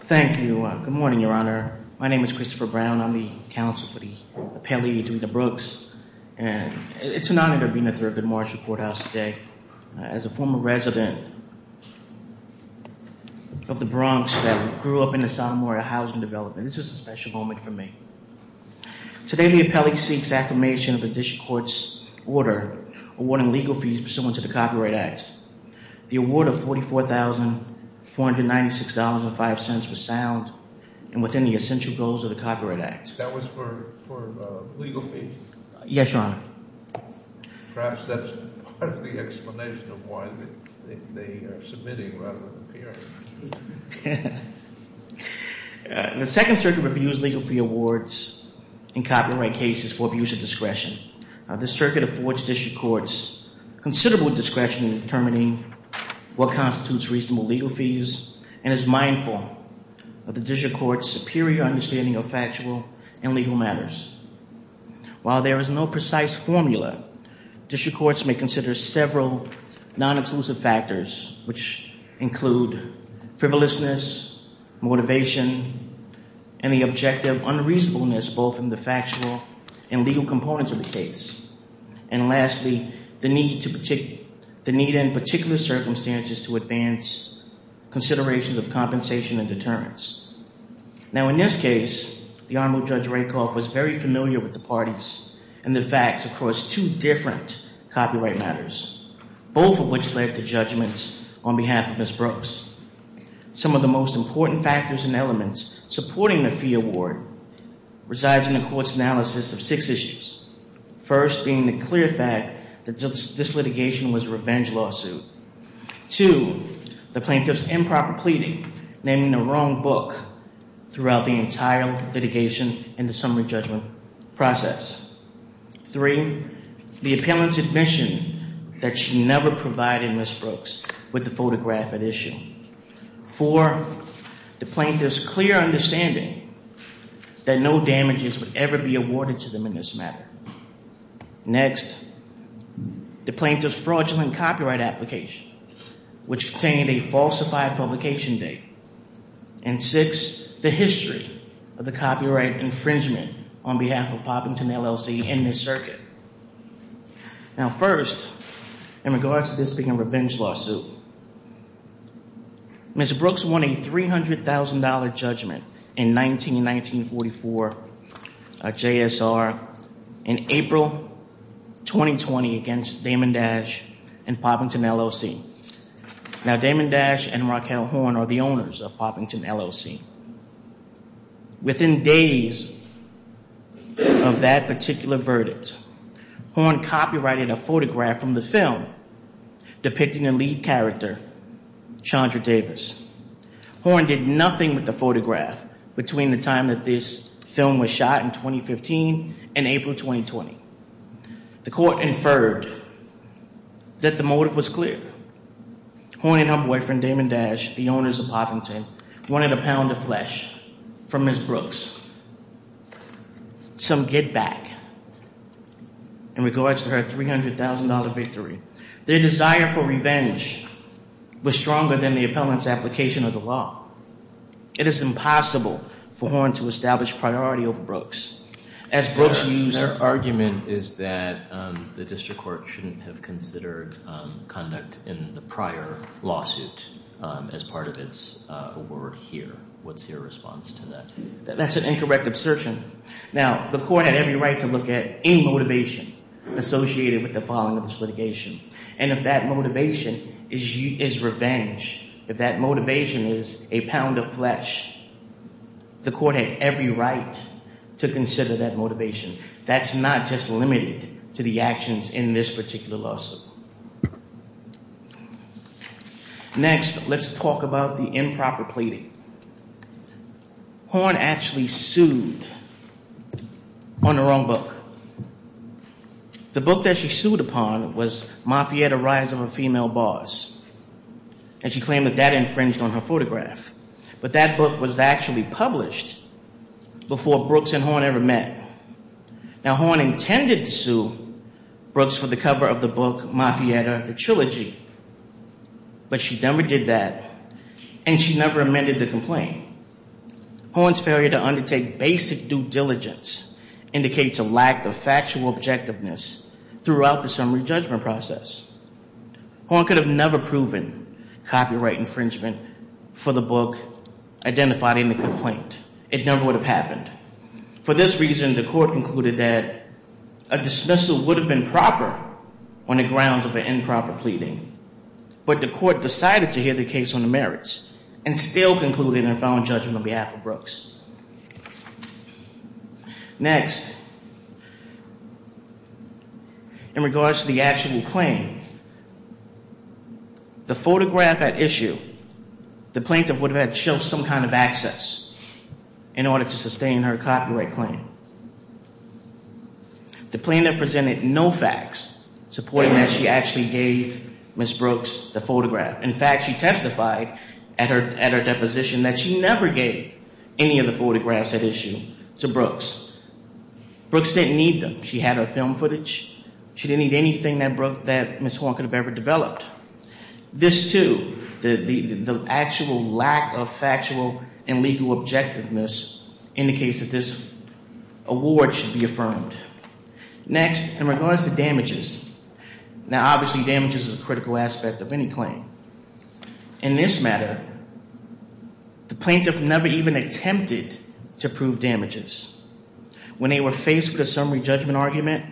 Thank you. Good morning, Your Honor. My name is Christopher Brown. I'm the counsel for the appellee, Doreen Brooks, and it's an honor to be in the Thurgood Marshall Courthouse today as a former resident of the Bronx that grew up in the Sonoma area housing development. This is a special moment for me. Today, the appellee seeks affirmation of the district court's order awarding legal fees pursuant to the Copyright Act. The award of $44,496.05 and within the essential goals of the Copyright Act. That was for legal fees? Yes, Your Honor. Perhaps that's part of the explanation of why they are submitting rather than appearing. The Second Circuit reviews legal fee awards in copyright cases for abuse of discretion. The Circuit affords district courts considerable discretion in determining what constitutes reasonable legal fees and is mindful of the district court's superior understanding of factual and legal matters. While there is no precise formula, district courts may consider several non-exclusive factors which include frivolousness, motivation, and the objective unreasonableness both in the factual and legal components of the case. And lastly, the need in particular circumstances to advance considerations of compensation and deterrence. Now, in this case, the Honorable Judge Rakoff was very familiar with the parties and the facts across two different copyright matters, both of which led to judgments on behalf of Ms. Brooks. Some of the most important factors and being the clear fact that this litigation was a revenge lawsuit. Two, the plaintiff's improper pleading, naming the wrong book throughout the entire litigation and the summary judgment process. Three, the appellant's admission that she never provided Ms. Brooks with the photograph at issue. Four, the plaintiff's clear understanding that no damages would ever be awarded to them in this matter. Next, the plaintiff's fraudulent copyright application, which contained a falsified publication date. And six, the history of the copyright infringement on behalf of Poppington LLC in this circuit. Now, first, in regards to this being a revenge lawsuit, Ms. Brooks won a $300,000 judgment in 19-1944, a JSR, in April 2020 against Damond Dash and Poppington LLC. Now, Damond Dash and Raquel Horn are the owners of Poppington LLC. Within days of that particular verdict, Horn copyrighted a photograph from the film depicting a lead character, Chandra Davis. Horn did nothing with the photograph between the time that this film was shot in 2015 and April 2020. The court inferred that the motive was clear. Horn and her boyfriend, Damond Dash, the owners of Poppington, wanted a pound of flesh from Ms. Brooks. Some get back in regards to her $300,000 victory. Their desire for revenge was stronger than the appellant's application of the law. It is impossible for Horn to establish priority over Brooks. As Brooks used... Her argument is that the district court shouldn't have considered conduct in the case. This is an incorrect assertion. Now, the court had every right to look at any motivation associated with the filing of this litigation. And if that motivation is revenge, if that motivation is a pound of flesh, the court had every right to consider that motivation. That's not just limited to the actions in this particular lawsuit. Next, let's talk about the improper pleading. Horn actually sued on her own book. The book that she sued upon was Mafietta, Rise of a Female Boss. And she claimed that that infringed on her photograph. But that book was actually published before Brooks and Horn ever met. Now, Horn intended to sue Brooks for the cover of the book, Mafietta, the trilogy. But she never did that. And she never amended the complaint. Horn's failure to undertake basic due diligence indicates a lack of factual objectiveness throughout the summary judgment process. Horn could have never proven copyright infringement for the book identified in the complaint. It never would have happened. For this reason, the court concluded that a dismissal would have been proper on the grounds of an improper pleading. But the court decided to hear the case on the merits and still concluded in a found judgment on behalf of Brooks. Next, in regards to the actual claim, the photograph at issue, the plaintiff would have some kind of access in order to sustain her copyright claim. The plaintiff presented no facts supporting that she actually gave Ms. Brooks the photograph. In fact, she testified at her deposition that she never gave any of the photographs at issue to Brooks. Brooks didn't need them. She had her film footage. She didn't need anything that Ms. Horn could have ever This too, the actual lack of factual and legal objectiveness indicates that this award should be affirmed. Next, in regards to damages, now obviously damages is a critical aspect of any claim. In this matter, the plaintiff never even attempted to prove damages. When they were faced with a summary judgment argument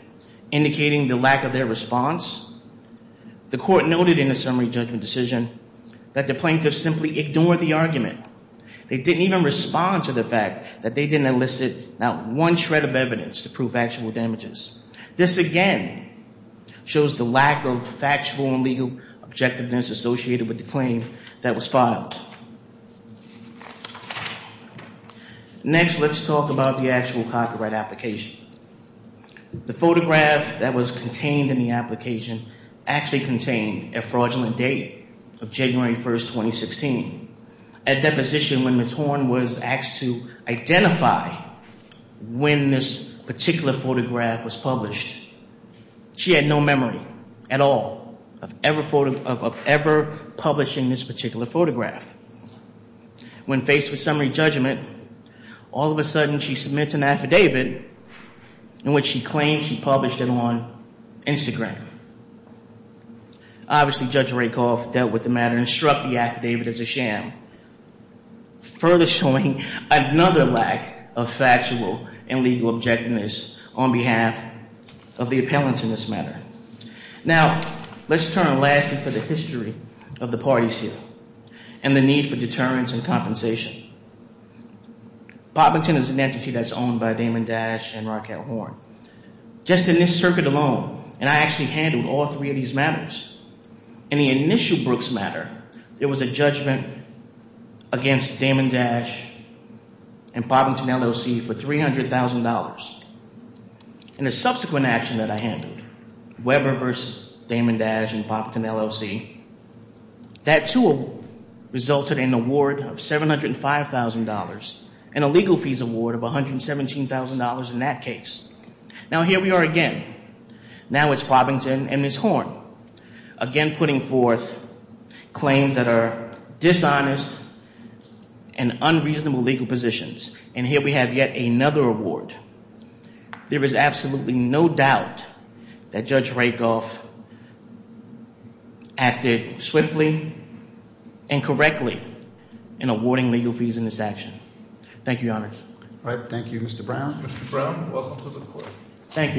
indicating the lack of their response, the court noted in the summary judgment decision that the plaintiff simply ignored the argument. They didn't even respond to the fact that they didn't elicit not one shred of evidence to prove actual damages. This again shows the lack of factual and legal objectiveness associated with the claim that was The photograph that was contained in the application actually contained a fraudulent date of January 1, 2016. At deposition when Ms. Horn was asked to identify when this particular photograph was published, she had no memory at all of ever publishing this particular photograph. When faced with summary judgment, all of a sudden she submits an affidavit in which she claims she published it on Instagram. Obviously Judge Rakoff dealt with the matter and struck the affidavit as a sham, further showing another lack of factual and legal objectiveness on behalf of the appellant in this matter. Now let's turn lastly to the history of the parties here and the need for deterrence and compensation. Poppington is an entity that's owned by Damon Dash and Raquel Horn. Just in this circuit alone, and I actually handled all three of these matters, in the initial Brooks matter, there was a judgment against Damon Dash and Poppington LLC for $300,000. In a subsequent action that I handled, Weber versus Damon Dash and Poppington LLC, that too resulted in an award of $705,000 and a legal fees award of $117,000 in that case. Now here we are again. Now it's Poppington and Ms. Horn again putting forth claims that are dishonest and unreasonable legal positions. And here we have yet another award. There is absolutely no doubt that Judge Rakoff acted swiftly and correctly in awarding legal fees in this action. Thank you, Your Honor. All right, thank you, Mr. Brown. Mr. Brown, welcome to the court. Thank you.